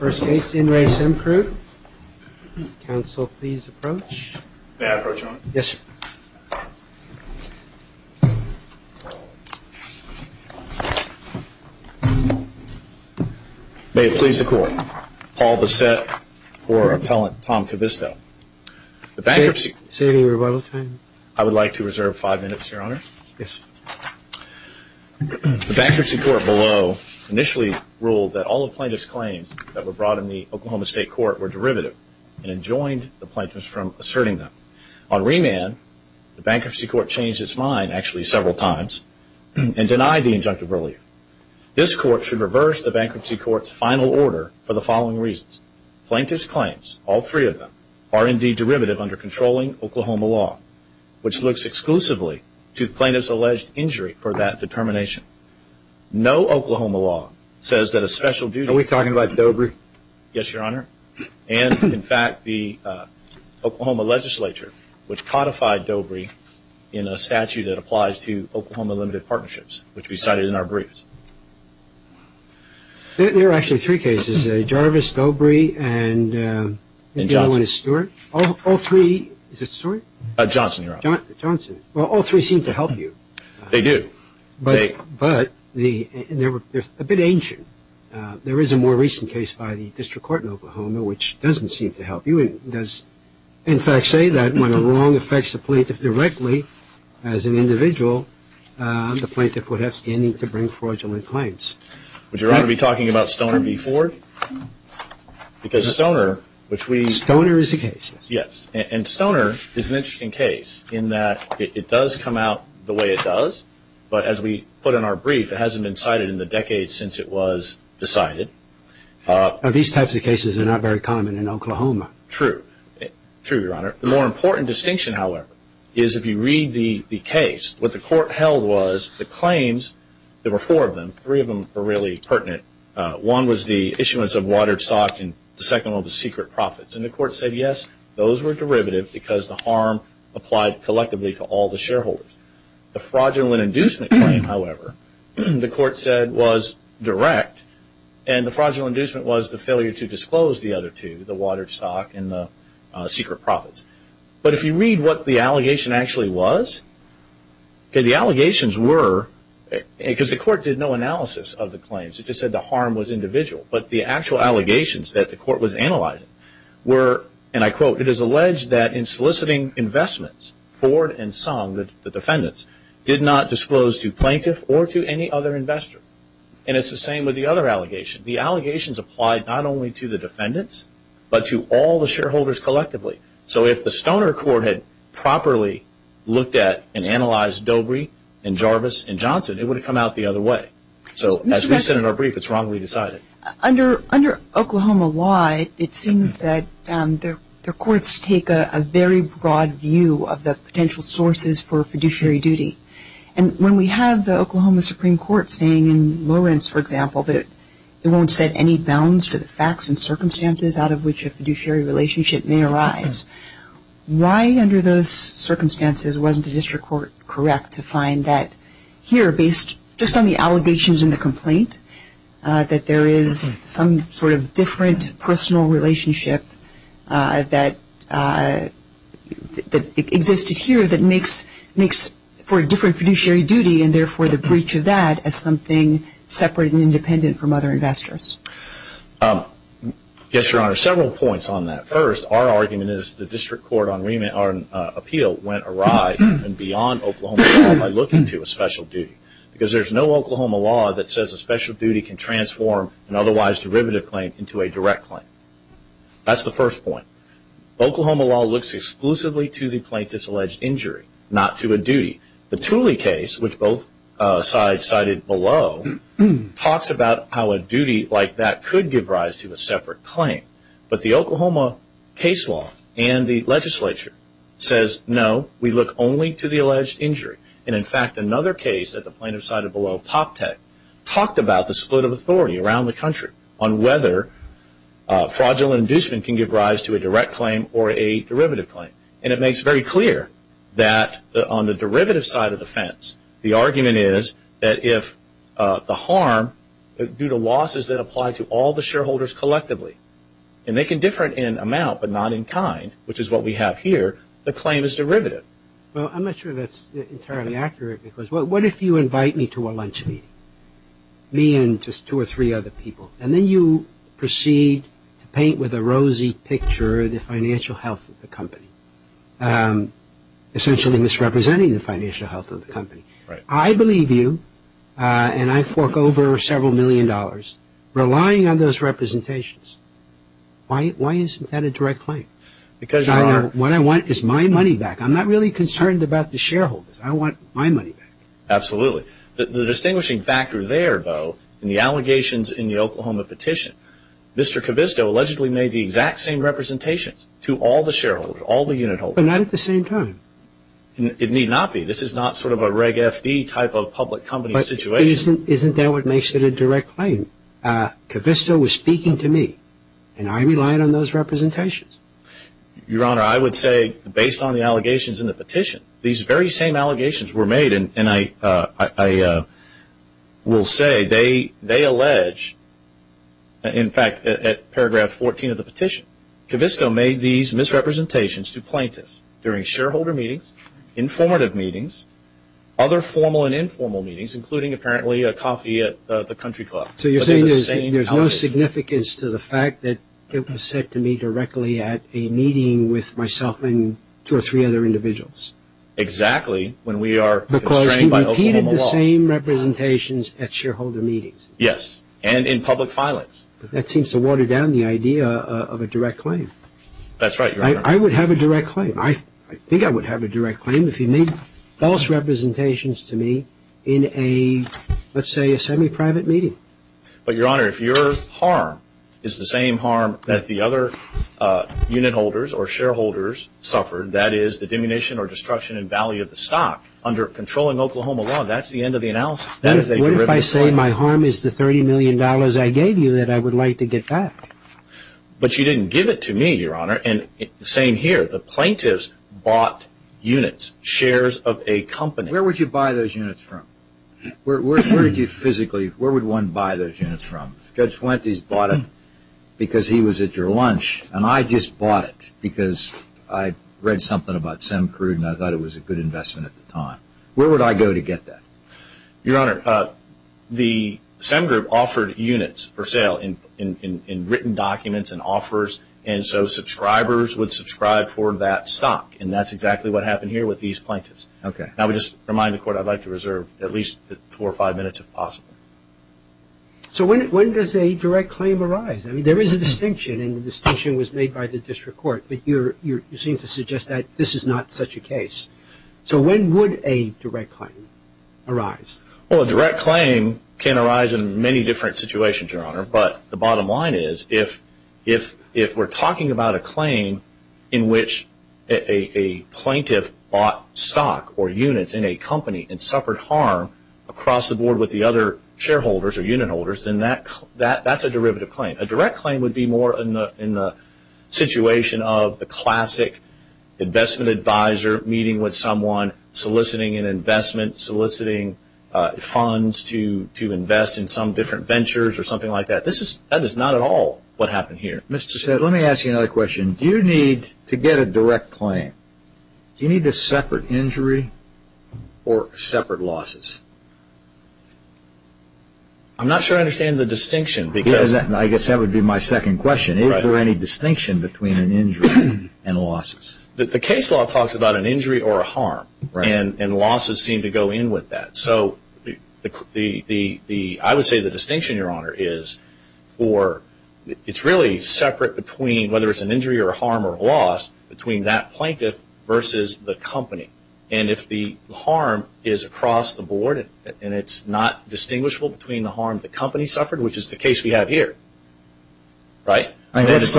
First case, In Re Semcrude. Counsel, please approach. May I approach, Your Honor? Yes, sir. May it please the Court. Paul Bassett for Appellant Tom Kavisto. The bankruptcy- Say your rebuttal time. I would like to reserve five minutes, Your Honor. Yes, sir. The bankruptcy court below initially ruled that all of plaintiff's claims that were brought in the Oklahoma State Court were derivative and enjoined the plaintiffs from asserting them. On remand, the bankruptcy court changed its mind actually several times and denied the injunctive earlier. This court should reverse the bankruptcy court's final order for the following reasons. Plaintiff's claims, all three of them, are indeed derivative under controlling Oklahoma law, which looks exclusively to plaintiff's alleged injury for that determination. No Oklahoma law says that a special duty- Are we talking about Dobry? Yes, Your Honor. And, in fact, the Oklahoma legislature, which codified Dobry in a statute that applies to Oklahoma Limited Partnerships, which we cited in our briefs. There are actually three cases, Jarvis, Dobry, and- And Johnson. Johnson is Stewart. All three- is it Stewart? Johnson, Your Honor. Johnson. Well, all three seem to help you. They do. But they're a bit ancient. There is a more recent case by the District Court in Oklahoma, which doesn't seem to help you. It does, in fact, say that when a wrong affects the plaintiff directly as an individual, the plaintiff would have standing to bring fraudulent claims. Would Your Honor be talking about Stoner v. Ford? Because Stoner, which we- Stoner is the case. Yes. And Stoner is an interesting case in that it does come out the way it does, but as we put in our brief, it hasn't been cited in the decades since it was decided. These types of cases are not very common in Oklahoma. True. True, Your Honor. The more important distinction, however, is if you read the case, what the court held was the claims, there were four of them, three of them were really pertinent. One was the issuance of watered stock and the second one was secret profits. And the court said, yes, those were derivative because the harm applied collectively to all the shareholders. The fraudulent inducement claim, however, the court said was direct and the fraudulent inducement was the failure to disclose the other two, the watered stock and the secret profits. But if you read what the allegation actually was, the allegations were, because the court did no analysis of the claims. It just said the harm was individual. But the actual allegations that the court was analyzing were, and I quote, it is alleged that in soliciting investments, Ford and Song, the defendants, did not disclose to plaintiff or to any other investor. And it's the same with the other allegations. The allegations applied not only to the defendants but to all the shareholders collectively. So if the Stoner Court had properly looked at and analyzed Dobry and Jarvis and Johnson, it would have come out the other way. So as we said in our brief, it's wrongly decided. Under Oklahoma law, it seems that the courts take a very broad view of the potential sources for fiduciary duty. And when we have the Oklahoma Supreme Court saying in Lawrence, for example, that it won't set any bounds to the facts and circumstances out of which a fiduciary relationship may arise, why under those circumstances wasn't the district court correct to find that here, based just on the allegations and the complaint, that there is some sort of different personal relationship that existed here that makes for a different fiduciary duty and therefore the breach of that as something separate and independent from other investors? Yes, Your Honor. Several points on that. First, our argument is the district court on appeal went awry and beyond Oklahoma law by looking to a special duty. Because there's no Oklahoma law that says a special duty can transform an otherwise derivative claim into a direct claim. That's the first point. Oklahoma law looks exclusively to the plaintiff's alleged injury, not to a duty. The Tooley case, which both sides cited below, talks about how a duty like that could give rise to a separate claim. But the Oklahoma case law and the legislature says, no, we look only to the alleged injury. And, in fact, another case that the plaintiff cited below, PopTech, talked about the split of authority around the country on whether fraudulent inducement can give rise to a direct claim or a derivative claim. And it makes very clear that on the derivative side of the fence, the argument is that if the harm due to losses that apply to all the shareholders collectively, and they can differ in amount but not in kind, which is what we have here, the claim is derivative. Well, I'm not sure that's entirely accurate. What if you invite me to a lunch meeting, me and just two or three other people, and then you proceed to paint with a rosy picture the financial health of the company, essentially misrepresenting the financial health of the company. I believe you, and I fork over several million dollars, relying on those representations. Why isn't that a direct claim? What I want is my money back. I'm not really concerned about the shareholders. I want my money back. Absolutely. The distinguishing factor there, though, in the allegations in the Oklahoma petition, Mr. Covisto allegedly made the exact same representations to all the shareholders, all the unit holders. But not at the same time. It need not be. This is not sort of a reg FD type of public company situation. But isn't that what makes it a direct claim? Covisto was speaking to me, and I relied on those representations. Your Honor, I would say, based on the allegations in the petition, these very same allegations were made, and I will say they allege, in fact, at paragraph 14 of the petition, Covisto made these misrepresentations to plaintiffs during shareholder meetings, informative meetings, other formal and informal meetings, including apparently a coffee at the country club. So you're saying there's no significance to the fact that it was said to me directly at a meeting with myself and two or three other individuals? Exactly, when we are constrained by Oklahoma law. Because he repeated the same representations at shareholder meetings. Yes, and in public filings. That seems to water down the idea of a direct claim. That's right, Your Honor. I would have a direct claim. I think I would have a direct claim if he made false representations to me in a, let's say, a semi-private meeting. But, Your Honor, if your harm is the same harm that the other unit holders or shareholders suffered, that is the diminution or destruction in value of the stock under controlling Oklahoma law, that's the end of the analysis. What if I say my harm is the $30 million I gave you that I would like to get back? But you didn't give it to me, Your Honor, and the same here. The plaintiffs bought units, shares of a company. Where would you buy those units from? Where would you physically, where would one buy those units from? If Judge Fuentes bought it because he was at your lunch, and I just bought it because I read something about Semcrude and I thought it was a good investment at the time, where would I go to get that? Your Honor, the Sem Group offered units for sale in written documents and offers, and so subscribers would subscribe for that stock, and that's exactly what happened here with these plaintiffs. Now, I would just remind the Court I'd like to reserve at least four or five minutes, if possible. So when does a direct claim arise? I mean, there is a distinction, and the distinction was made by the district court, but you seem to suggest that this is not such a case. So when would a direct claim arise? Well, a direct claim can arise in many different situations, Your Honor, but the bottom line is if we're talking about a claim in which a plaintiff bought stock or units in a company and suffered harm across the board with the other shareholders or unit holders, then that's a derivative claim. A direct claim would be more in the situation of the classic investment advisor meeting with someone, soliciting an investment, soliciting funds to invest in some different ventures or something like that. That is not at all what happened here. Mr. Sedgwick, let me ask you another question. Do you need to get a direct claim? Do you need a separate injury or separate losses? I'm not sure I understand the distinction. I guess that would be my second question. Is there any distinction between an injury and losses? The case law talks about an injury or a harm, and losses seem to go in with that. So I would say the distinction, Your Honor, is it's really separate between whether it's an injury or a harm or a loss, between that plaintiff versus the company. And if the harm is across the board and it's not distinguishable between the harm the company suffered, which is the case we have here, right? What's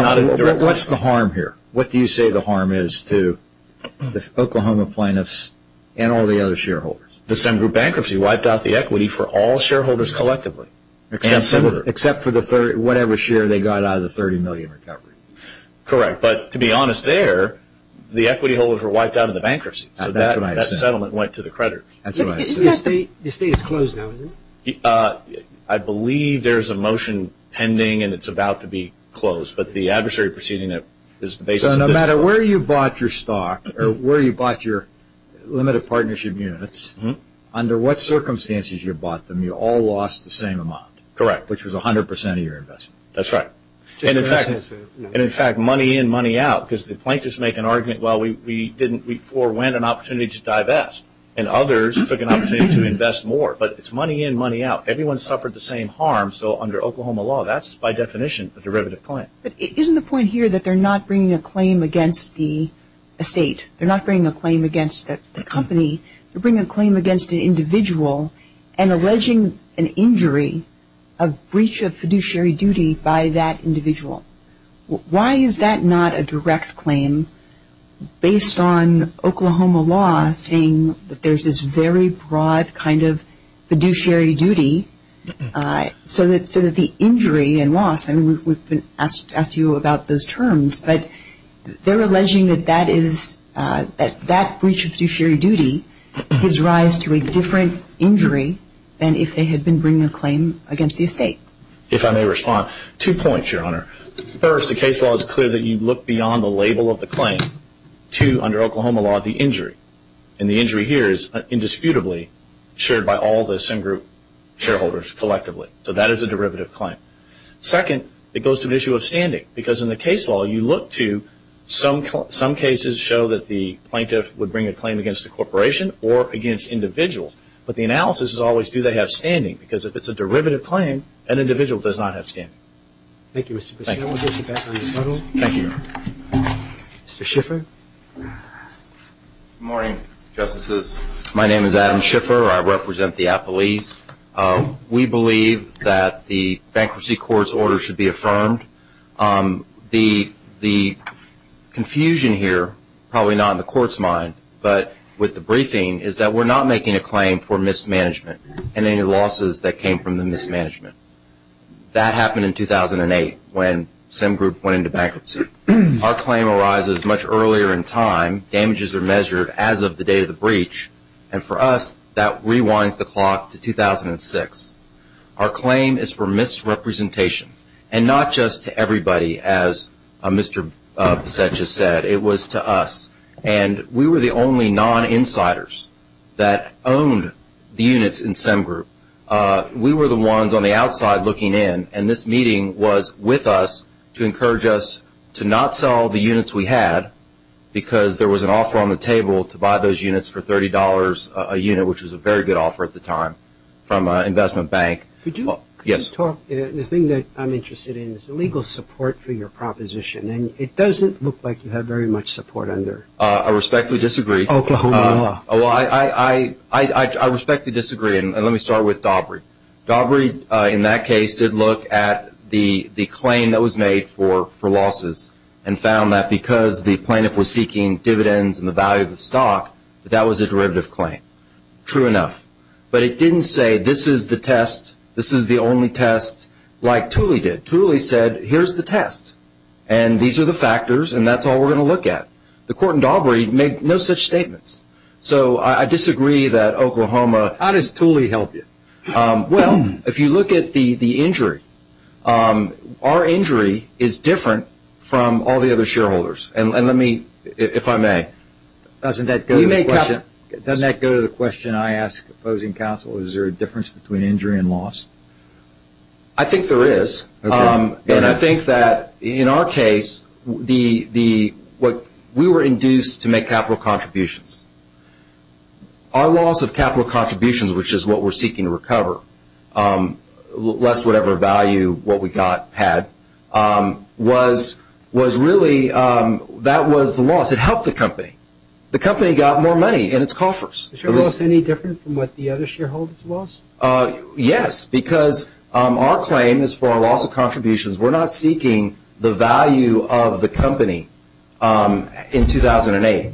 the harm here? What do you say the harm is to the Oklahoma plaintiffs and all the other shareholders? The same group bankruptcy wiped out the equity for all shareholders collectively. Except for whatever share they got out of the $30 million recovery. Correct. But to be honest there, the equity holders were wiped out of the bankruptcy. So that settlement went to the creditors. Isn't the estate closed now? I believe there's a motion pending and it's about to be closed. So no matter where you bought your stock or where you bought your limited partnership units, under what circumstances you bought them, you all lost the same amount? Correct. Which was 100% of your investment. That's right. And, in fact, money in, money out. Because the plaintiffs make an argument, well, we forwent an opportunity to divest, and others took an opportunity to invest more. But it's money in, money out. Everyone suffered the same harm. So under Oklahoma law, that's by definition a derivative claim. But isn't the point here that they're not bringing a claim against the estate? They're not bringing a claim against the company. They're bringing a claim against an individual and alleging an injury, a breach of fiduciary duty by that individual. Why is that not a direct claim based on Oklahoma law saying that there's this very broad kind of fiduciary duty so that the injury and loss, and we've asked you about those terms, but they're alleging that that is, that that breach of fiduciary duty gives rise to a different injury than if they had been bringing a claim against the estate. If I may respond, two points, Your Honor. First, the case law is clear that you look beyond the label of the claim to, under Oklahoma law, the injury. And the injury here is indisputably shared by all the same group shareholders collectively. So that is a derivative claim. Second, it goes to the issue of standing. Because in the case law, you look to some cases show that the plaintiff would bring a claim against a corporation or against individuals. But the analysis is always, do they have standing? Because if it's a derivative claim, an individual does not have standing. Thank you, Mr. Presidio. We'll get you back on your total. Thank you, Your Honor. Mr. Schiffer. Good morning, Justices. My name is Adam Schiffer. I represent the appellees. We believe that the bankruptcy court's order should be affirmed. The confusion here, probably not in the court's mind, but with the briefing, is that we're not making a claim for mismanagement and any losses that came from the mismanagement. That happened in 2008 when Sim Group went into bankruptcy. Our claim arises much earlier in time. Damages are measured as of the day of the breach. And for us, that rewinds the clock to 2006. Our claim is for misrepresentation, and not just to everybody, as Mr. Beset just said. It was to us. And we were the only non-insiders that owned the units in Sim Group. We were the ones on the outside looking in. And this meeting was with us to encourage us to not sell the units we had because there was an offer on the table to buy those units for $30 a unit, which was a very good offer at the time, from an investment bank. Could you talk? Yes. The thing that I'm interested in is the legal support for your proposition. And it doesn't look like you have very much support under Oklahoma law. I respectfully disagree. I respectfully disagree. And let me start with Daubry. Daubry, in that case, did look at the claim that was made for losses and found that because the plaintiff was seeking dividends and the value of the stock, that that was a derivative claim. True enough. But it didn't say, this is the test, this is the only test, like Tooley did. Tooley said, here's the test, and these are the factors, and that's all we're going to look at. The court in Daubry made no such statements. So I disagree that Oklahoma. How does Tooley help you? Well, if you look at the injury, our injury is different from all the other shareholders. And let me, if I may. Doesn't that go to the question I ask opposing counsel, is there a difference between injury and loss? I think there is. And I think that in our case, we were induced to make capital contributions. Our loss of capital contributions, which is what we're seeking to recover, less whatever value what we had, was really, that was the loss. It helped the company. The company got more money in its coffers. Is your loss any different from what the other shareholders lost? Yes, because our claim is for our loss of contributions. We're not seeking the value of the company in 2008.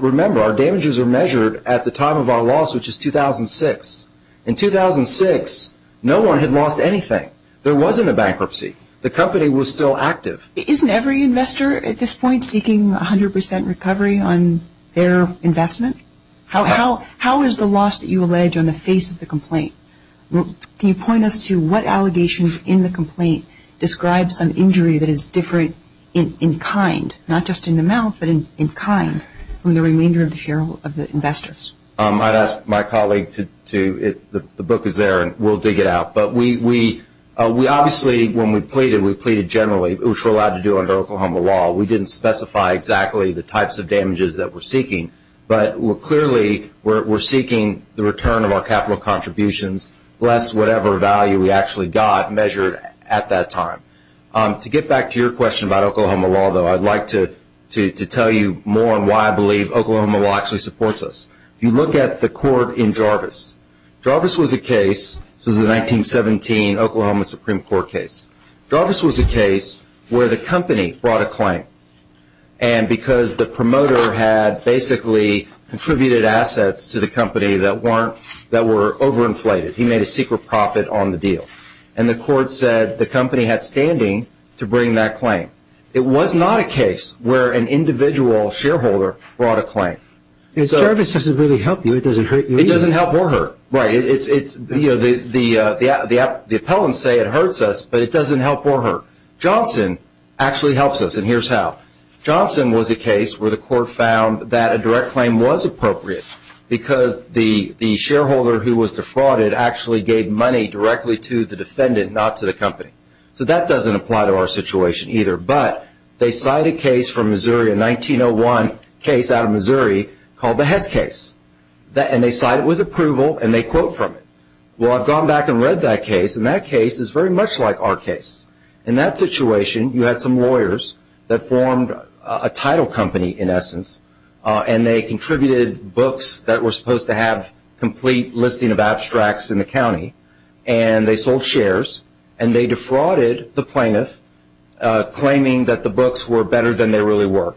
Remember, our damages are measured at the time of our loss, which is 2006. In 2006, no one had lost anything. There wasn't a bankruptcy. The company was still active. Isn't every investor at this point seeking 100 percent recovery on their investment? How is the loss that you allege on the face of the complaint? Can you point us to what allegations in the complaint describe some injury that is different in kind, not just in amount, but in kind from the remainder of the investors? I'd ask my colleague to do it. The book is there, and we'll dig it out. But we obviously, when we pleaded, we pleaded generally, which we're allowed to do under Oklahoma law. We didn't specify exactly the types of damages that we're seeking, but clearly we're seeking the return of our capital contributions less whatever value we actually got measured at that time. To get back to your question about Oklahoma law, though, I'd like to tell you more on why I believe Oklahoma law actually supports us. You look at the court in Jarvis. Jarvis was a case. This was a 1917 Oklahoma Supreme Court case. Jarvis was a case where the company brought a claim, and because the promoter had basically contributed assets to the company that were overinflated, he made a secret profit on the deal. And the court said the company had standing to bring that claim. It was not a case where an individual shareholder brought a claim. Jarvis doesn't really help you. It doesn't hurt you either. It doesn't help or hurt. Right. The appellants say it hurts us, but it doesn't help or hurt. Johnson actually helps us, and here's how. Johnson was a case where the court found that a direct claim was appropriate because the shareholder who was defrauded actually gave money directly to the defendant, not to the company. So that doesn't apply to our situation either. But they cite a case from Missouri, a 1901 case out of Missouri called the Hess case, and they cite it with approval and they quote from it. Well, I've gone back and read that case, and that case is very much like our case. In that situation, you had some lawyers that formed a title company, in essence, and they contributed books that were supposed to have a complete listing of abstracts in the county, and they sold shares and they defrauded the plaintiff, claiming that the books were better than they really were.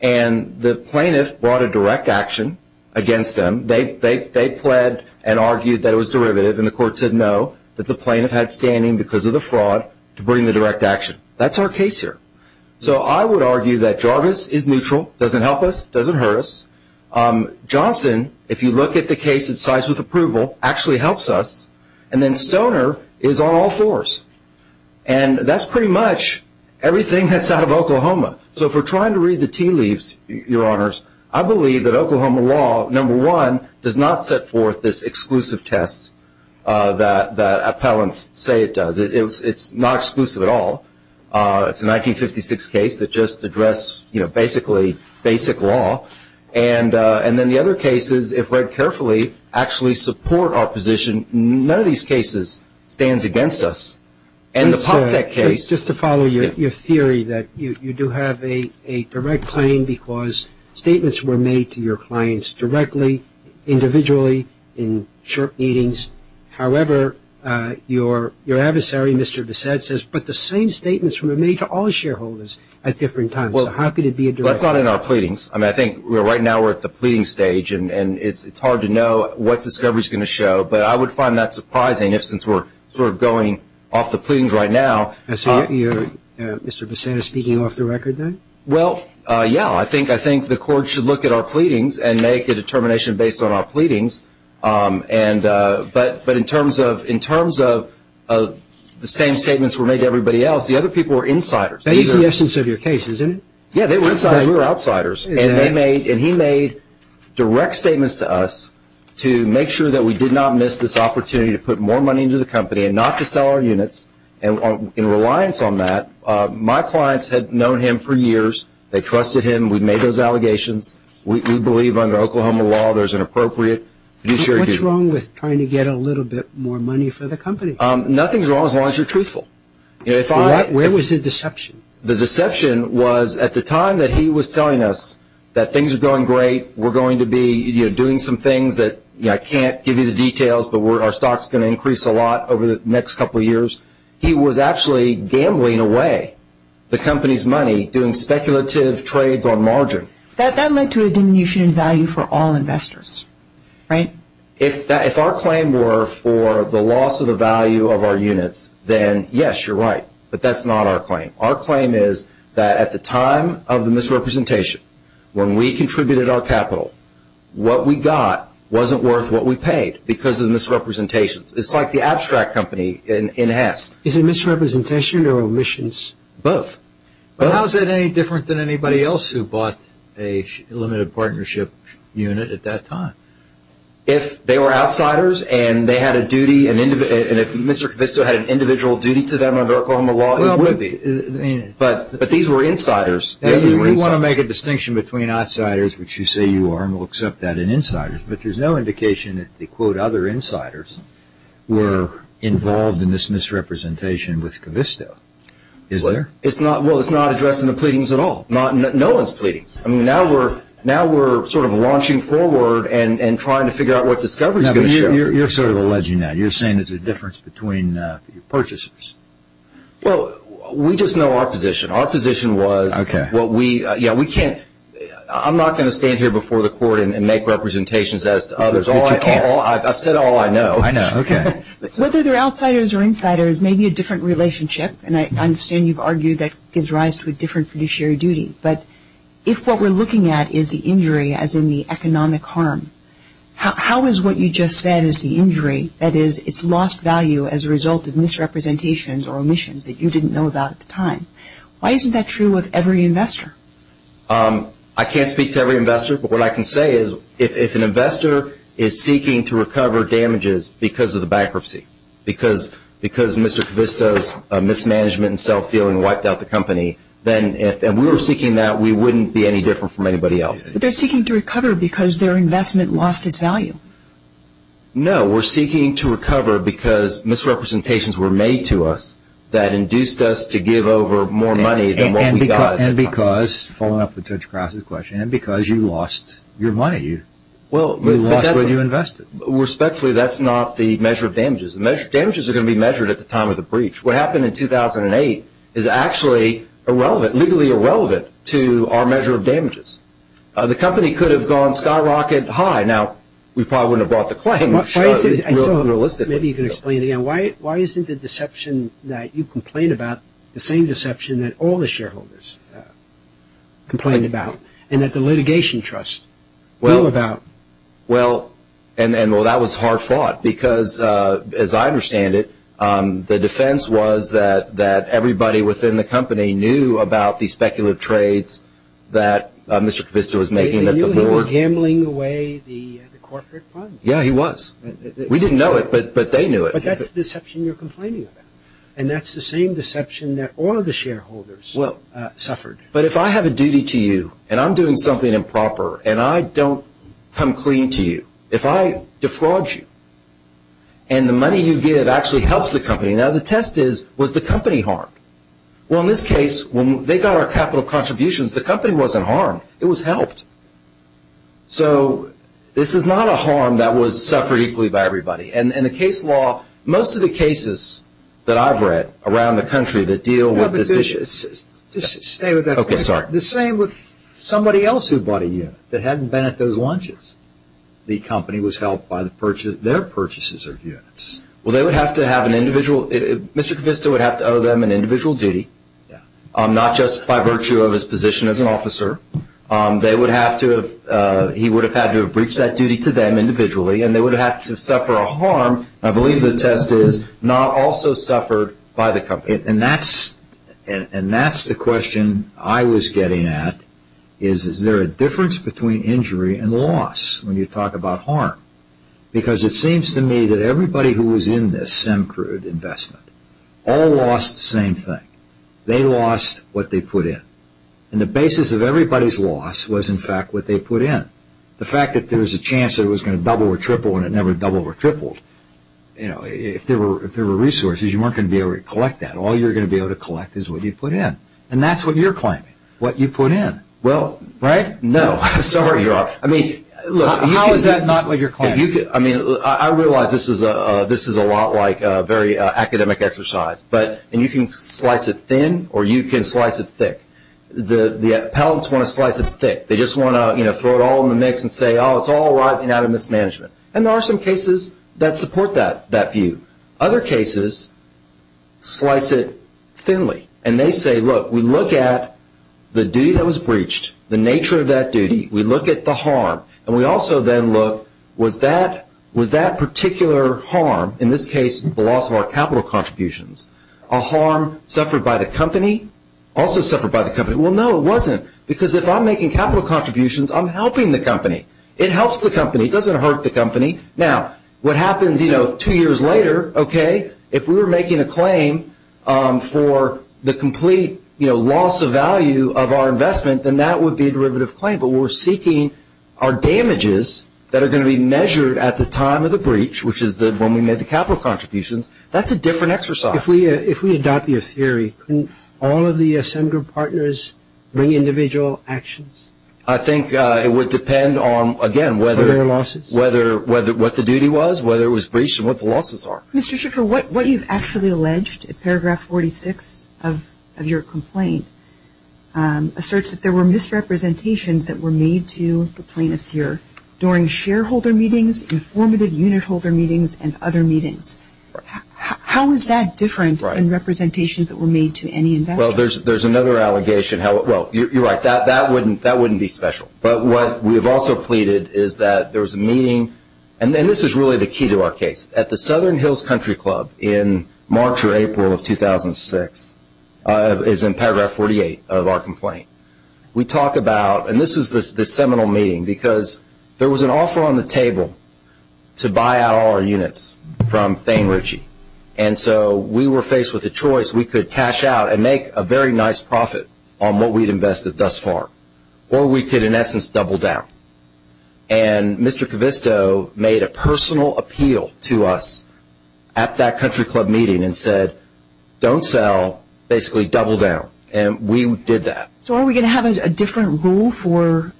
And the plaintiff brought a direct action against them. They pled and argued that it was derivative, and the court said no, that the plaintiff had standing because of the fraud to bring the direct action. That's our case here. So I would argue that Jarvis is neutral, doesn't help us, doesn't hurt us. Johnson, if you look at the case, it cites with approval, actually helps us. And then Stoner is on all fours. And that's pretty much everything that's out of Oklahoma. So if we're trying to read the tea leaves, Your Honors, I believe that Oklahoma law, number one, does not set forth this exclusive test that appellants say it does. It's not exclusive at all. It's a 1956 case that just addressed, you know, basically basic law. And then the other case is, if read carefully, actually support our position. None of these cases stands against us. And the Poptek case. Just to follow your theory that you do have a direct claim because statements were made to your clients directly, individually, in short meetings. However, your adversary, Mr. Bessette, says, but the same statements were made to all shareholders at different times. So how could it be a direct claim? Well, that's not in our pleadings. I mean, I think right now we're at the pleading stage, and it's hard to know what discovery is going to show. But I would find that surprising, since we're sort of going off the pleadings right now. So you're, Mr. Bessette, speaking off the record then? Well, yeah. I think the court should look at our pleadings and make a determination based on our pleadings. But in terms of the same statements were made to everybody else, the other people were insiders. That is the essence of your case, isn't it? Yeah, they were insiders. We were outsiders. And he made direct statements to us to make sure that we did not miss this opportunity to put more money into the company and not to sell our units. And in reliance on that, my clients had known him for years. They trusted him. We made those allegations. We believe under Oklahoma law there's an appropriate fiduciary duty. What's wrong with trying to get a little bit more money for the company? Nothing's wrong as long as you're truthful. Where was the deception? The deception was at the time that he was telling us that things are going great, we're going to be doing some things that, you know, I can't give you the details, but our stock's going to increase a lot over the next couple of years. He was actually gambling away the company's money doing speculative trades on margin. That led to a diminution in value for all investors, right? If our claim were for the loss of the value of our units, then, yes, you're right. But that's not our claim. Our claim is that at the time of the misrepresentation, when we contributed our capital, what we got wasn't worth what we paid because of the misrepresentations. It's like the abstract company in Hess. Is it misrepresentation or omissions? Both. How is that any different than anybody else who bought a limited partnership unit at that time? If they were outsiders and they had a duty, and if Mr. Covisto had an individual duty to them under Oklahoma law, it would be. But these were insiders. You really want to make a distinction between outsiders, which you say you are, and we'll accept that, and insiders, but there's no indication that the, quote, other insiders were involved in this misrepresentation with Covisto. Is there? Well, it's not addressing the pleadings at all. No one's pleading. I mean, now we're sort of launching forward and trying to figure out what discovery is going to show. You're sort of alleging that. You're saying there's a difference between purchasers. Well, we just know our position. Our position was what we, yeah, we can't, I'm not going to stand here before the court and make representations as to others. But you can. I've said all I know. I know. Okay. Whether they're outsiders or insiders may be a different relationship, and I understand you've argued that gives rise to a different fiduciary duty, but if what we're looking at is the injury as in the economic harm, how is what you just said is the injury, that is, it's lost value as a result of misrepresentations or omissions that you didn't know about at the time? Why isn't that true with every investor? I can't speak to every investor, but what I can say is if an investor is seeking to recover damages because of the bankruptcy, because Mr. Kavisto's mismanagement and self-dealing wiped out the company, then if we were seeking that, we wouldn't be any different from anybody else. But they're seeking to recover because their investment lost its value. No, we're seeking to recover because misrepresentations were made to us that induced us to give over more money than what we got at the time. And because, following up with Judge Krause's question, and because you lost your money. You lost what you invested. Respectfully, that's not the measure of damages. Damages are going to be measured at the time of the breach. What happened in 2008 is actually irrelevant, legally irrelevant to our measure of damages. The company could have gone skyrocket high. Now, we probably wouldn't have brought the claim. Maybe you can explain it again. Why isn't the deception that you complain about the same deception that all the shareholders complain about, and that the litigation trust knew about? Well, that was hard fought because, as I understand it, the defense was that everybody within the company knew about the speculative trades that Mr. Kavisto was making. They knew he was gambling away the corporate funds. Yeah, he was. We didn't know it, but they knew it. But that's the deception you're complaining about. And that's the same deception that all of the shareholders suffered. But if I have a duty to you, and I'm doing something improper, and I don't come clean to you. If I defraud you, and the money you give actually helps the company. Now, the test is, was the company harmed? Well, in this case, when they got our capital contributions, the company wasn't harmed. It was helped. So, this is not a harm that was suffered equally by everybody. And in the case law, most of the cases that I've read around the country that deal with this issue. Just stay with that. Okay, sorry. The same with somebody else who bought a unit that hadn't been at those lunches. The company was helped by their purchases of units. Well, they would have to have an individual. Mr. Kavisto would have to owe them an individual duty, not just by virtue of his position as an officer. They would have to have, he would have had to have breached that duty to them individually, and they would have to suffer a harm. I believe the test is, not also suffered by the company. And that's the question I was getting at. Is there a difference between injury and loss when you talk about harm? Because it seems to me that everybody who was in this SEMCRUD investment all lost the same thing. They lost what they put in. And the basis of everybody's loss was, in fact, what they put in. The fact that there was a chance it was going to double or triple and it never doubled or tripled. If there were resources, you weren't going to be able to collect that. All you were going to be able to collect is what you put in. And that's what you're claiming, what you put in. Well, right? No. Sorry. How is that not what you're claiming? I realize this is a lot like very academic exercise. And you can slice it thin or you can slice it thick. The appellants want to slice it thick. They just want to throw it all in the mix and say, oh, it's all rising out of mismanagement. And there are some cases that support that view. Other cases slice it thinly. And they say, look, we look at the duty that was breached, the nature of that duty. We look at the harm. And we also then look, was that particular harm, in this case the loss of our capital contributions, a harm suffered by the company, also suffered by the company? Well, no, it wasn't. Because if I'm making capital contributions, I'm helping the company. It helps the company. It doesn't hurt the company. Now, what happens two years later, okay, if we were making a claim for the complete loss of value of our investment, then that would be a derivative claim. But we're seeking our damages that are going to be measured at the time of the breach, which is when we made the capital contributions. That's a different exercise. If we adopt your theory, can all of the assembly group partners bring individual actions? I think it would depend on, again, whether or not the duty was, whether it was breached, and what the losses are. Mr. Schiffer, what you've actually alleged in Paragraph 46 of your complaint asserts that there were misrepresentations that were made to the plaintiffs here during shareholder meetings, informative unit holder meetings, and other meetings. How is that different in representation that were made to any investor? Well, there's another allegation. Well, you're right. That wouldn't be special. But what we've also pleaded is that there was a meeting, and this is really the key to our case. At the Southern Hills Country Club in March or April of 2006, as in Paragraph 48 of our complaint, we talk about, and this is the seminal meeting, because there was an offer on the table to buy out all our units from Thane Ritchie. And so we were faced with a choice. We could cash out and make a very nice profit on what we'd invested thus far, or we could, in essence, double down. And Mr. Covisto made a personal appeal to us at that Country Club meeting and said, don't sell, basically double down. And we did that. So are we going to have a different rule for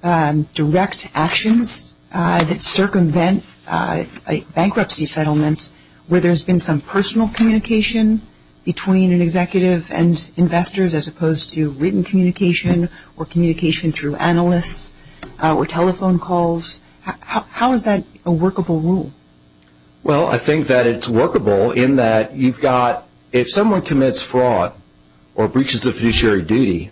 direct actions that circumvent bankruptcy settlements where there's been some personal communication between an executive and investors as opposed to written communication or communication through analysts or telephone calls? How is that a workable rule? Well, I think that it's workable in that you've got, if someone commits fraud or breaches a fiduciary duty,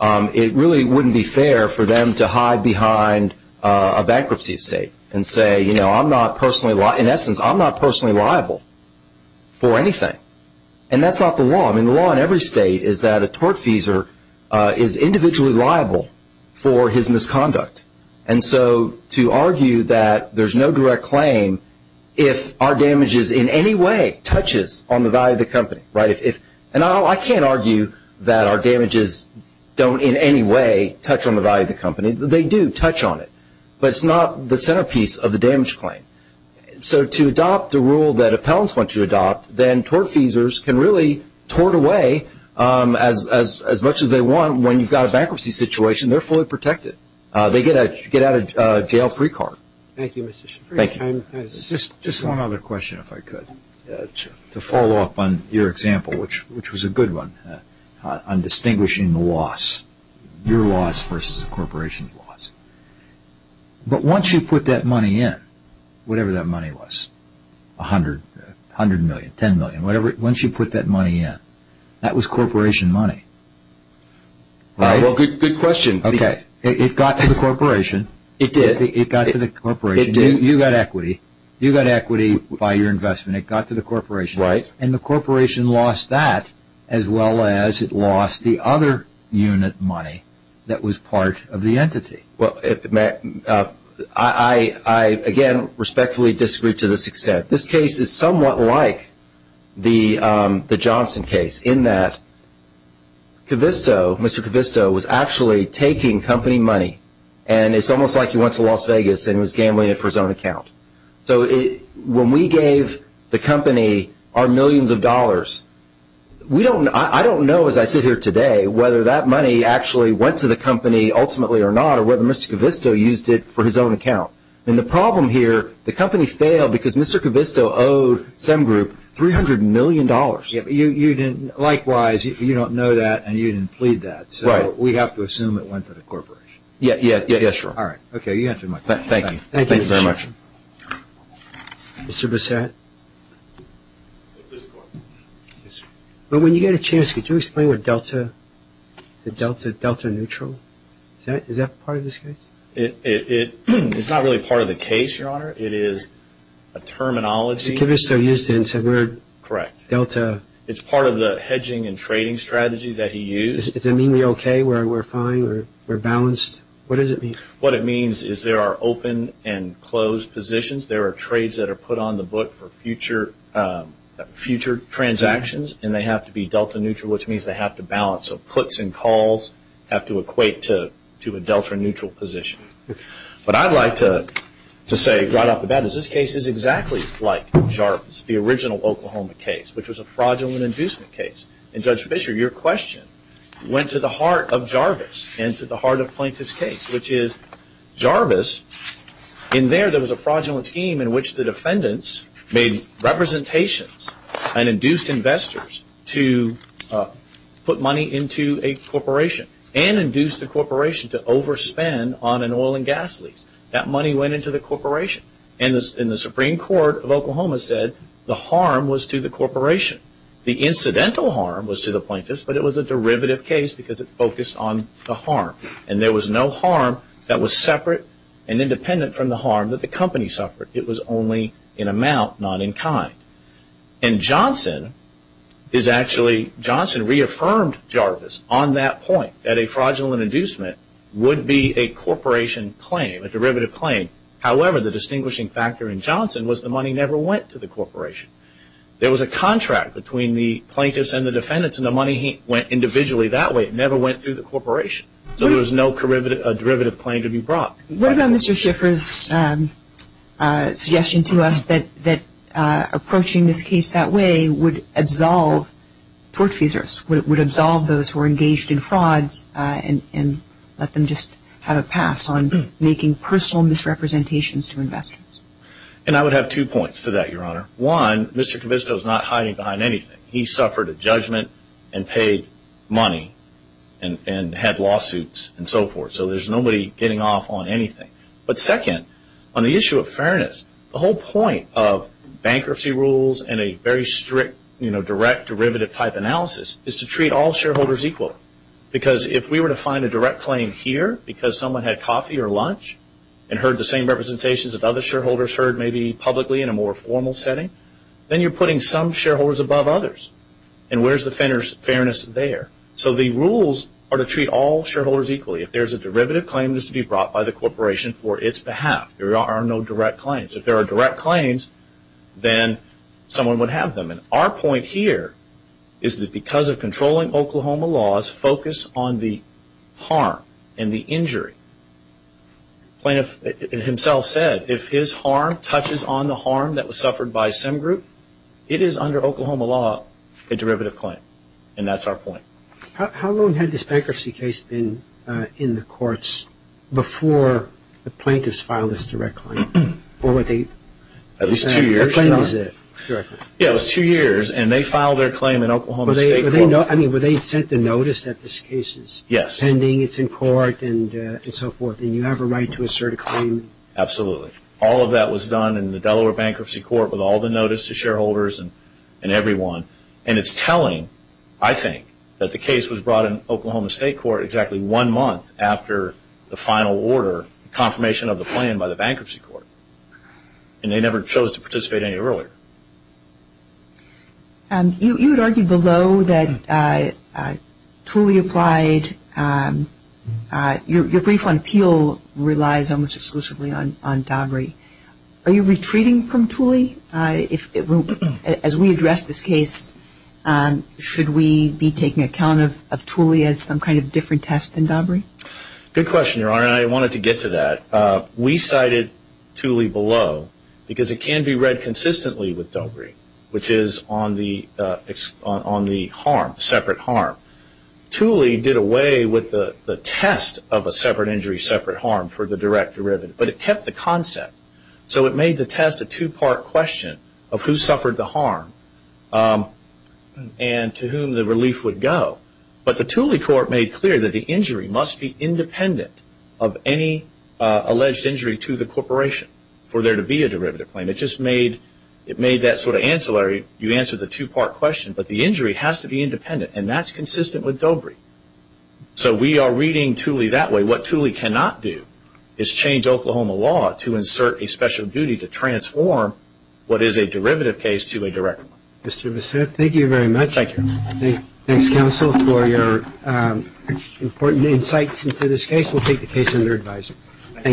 it really wouldn't be fair for them to hide behind a bankruptcy estate and say, you know, I'm not personally, in essence, I'm not personally liable for anything. And that's not the law. I mean, the law in every state is that a tortfeasor is individually liable for his misconduct. And so to argue that there's no direct claim if our damages in any way touches on the value of the company, right? And I can't argue that our damages don't in any way touch on the value of the company. They do touch on it. But it's not the centerpiece of the damage claim. So to adopt the rule that appellants want to adopt, then tortfeasors can really tort away as much as they want. When you've got a bankruptcy situation, they're fully protected. They get out of jail free card. Thank you, Mr. Shaffer. Just one other question, if I could, to follow up on your example, which was a good one, on distinguishing the loss, your loss versus a corporation's loss. But once you put that money in, whatever that money was, 100 million, 10 million, once you put that money in, that was corporation money, right? Well, good question. Okay. It got to the corporation. It did. It got to the corporation. It did. You got equity. You got equity by your investment. It got to the corporation. Right. And the corporation lost that as well as it lost the other unit money that was part of the entity. I, again, respectfully disagree to this extent. This case is somewhat like the Johnson case in that Mr. Covisto was actually taking company money, and it's almost like he went to Las Vegas and was gambling it for his own account. So when we gave the company our millions of dollars, I don't know, as I sit here today, whether that money actually went to the company ultimately or not or whether Mr. Covisto used it for his own account. And the problem here, the company failed because Mr. Covisto owed Sem Group $300 million. Likewise, you don't know that, and you didn't plead that. Right. So we have to assume it went to the corporation. Yes, sir. All right. Okay. You answered my question. Thank you. Thank you very much. Mr. Bissett? Yes, sir. When you get a chance, could you explain what delta, delta neutral, is that part of this case? It's not really part of the case, Your Honor. It is a terminology. Mr. Covisto used it and said we're delta. Correct. It's part of the hedging and trading strategy that he used. Does it mean we're okay, we're fine, we're balanced? What does it mean? What it means is there are open and closed positions. There are trades that are put on the book for future transactions, and they have to be delta neutral, which means they have to balance. So puts and calls have to equate to a delta neutral position. What I'd like to say right off the bat is this case is exactly like Jarvis, the original Oklahoma case, which was a fraudulent inducement case. And Judge Fischer, your question went to the heart of Jarvis and to the heart of Plaintiff's case, which is Jarvis, in there there was a fraudulent scheme in which the defendants made representations and induced investors to put money into a corporation and induced the corporation to overspend on an oil and gas lease. That money went into the corporation. And the Supreme Court of Oklahoma said the harm was to the corporation. The incidental harm was to the plaintiffs, but it was a derivative case because it focused on the harm. And there was no harm that was separate and independent from the harm that the company suffered. It was only in amount, not in kind. And Johnson is actually, Johnson reaffirmed Jarvis on that point, that a fraudulent inducement would be a corporation claim, a derivative claim. However, the distinguishing factor in Johnson was the money never went to the corporation. There was a contract between the plaintiffs and the defendants, and the money went individually that way. It never went through the corporation. So there was no derivative claim to be brought. What about Mr. Schiffer's suggestion to us that approaching this case that way would absolve tortfeasors, would absolve those who were engaged in frauds and let them just have a pass on making personal misrepresentations to investors? And I would have two points to that, Your Honor. One, Mr. Covisto is not hiding behind anything. He suffered a judgment and paid money and had lawsuits and so forth. So there's nobody getting off on anything. But second, on the issue of fairness, the whole point of bankruptcy rules and a very strict direct derivative type analysis is to treat all shareholders equally. Because if we were to find a direct claim here because someone had coffee or lunch and heard the same representations that other shareholders heard maybe publicly in a more formal setting, then you're putting some shareholders above others. And where's the fairness there? So the rules are to treat all shareholders equally. If there's a derivative claim, it's to be brought by the corporation for its behalf. There are no direct claims. If there are direct claims, then someone would have them. And our point here is that because of controlling Oklahoma laws, focus on the harm and the injury. The plaintiff himself said if his harm touches on the harm that was suffered by some group, it is under Oklahoma law a derivative claim. And that's our point. How long had this bankruptcy case been in the courts before the plaintiffs filed this direct claim? At least two years. Yeah, it was two years. And they filed their claim in Oklahoma state courts. I mean, were they sent the notice that this case is pending, it's in court, and so forth, and you have a right to assert a claim? Absolutely. All of that was done in the Delaware Bankruptcy Court with all the notice to shareholders and everyone. And it's telling, I think, that the case was brought in Oklahoma state court exactly one month after the final order, confirmation of the plan by the bankruptcy court. And they never chose to participate any earlier. You had argued below that Tooley applied. Your brief on Peel relies almost exclusively on Daubry. Are you retreating from Tooley? As we address this case, should we be taking account of Tooley as some kind of different test than Daubry? Good question, Your Honor, and I wanted to get to that. We cited Tooley below because it can be read consistently with Daubry, which is on the harm, separate harm. Tooley did away with the test of a separate injury, separate harm for the direct derivative, but it kept the concept. So it made the test a two-part question of who suffered the harm and to whom the relief would go. But the Tooley court made clear that the injury must be independent of any alleged injury to the corporation for there to be a derivative claim. It just made that sort of ancillary. You answered the two-part question, but the injury has to be independent, and that's consistent with Daubry. So we are reading Tooley that way. What Tooley cannot do is change Oklahoma law to insert a special duty to transform what is a derivative case to a direct one. Mr. Bissett, thank you very much. Thank you. Thanks, counsel, for your important insights into this case. We'll take the case under advisory. Thank you.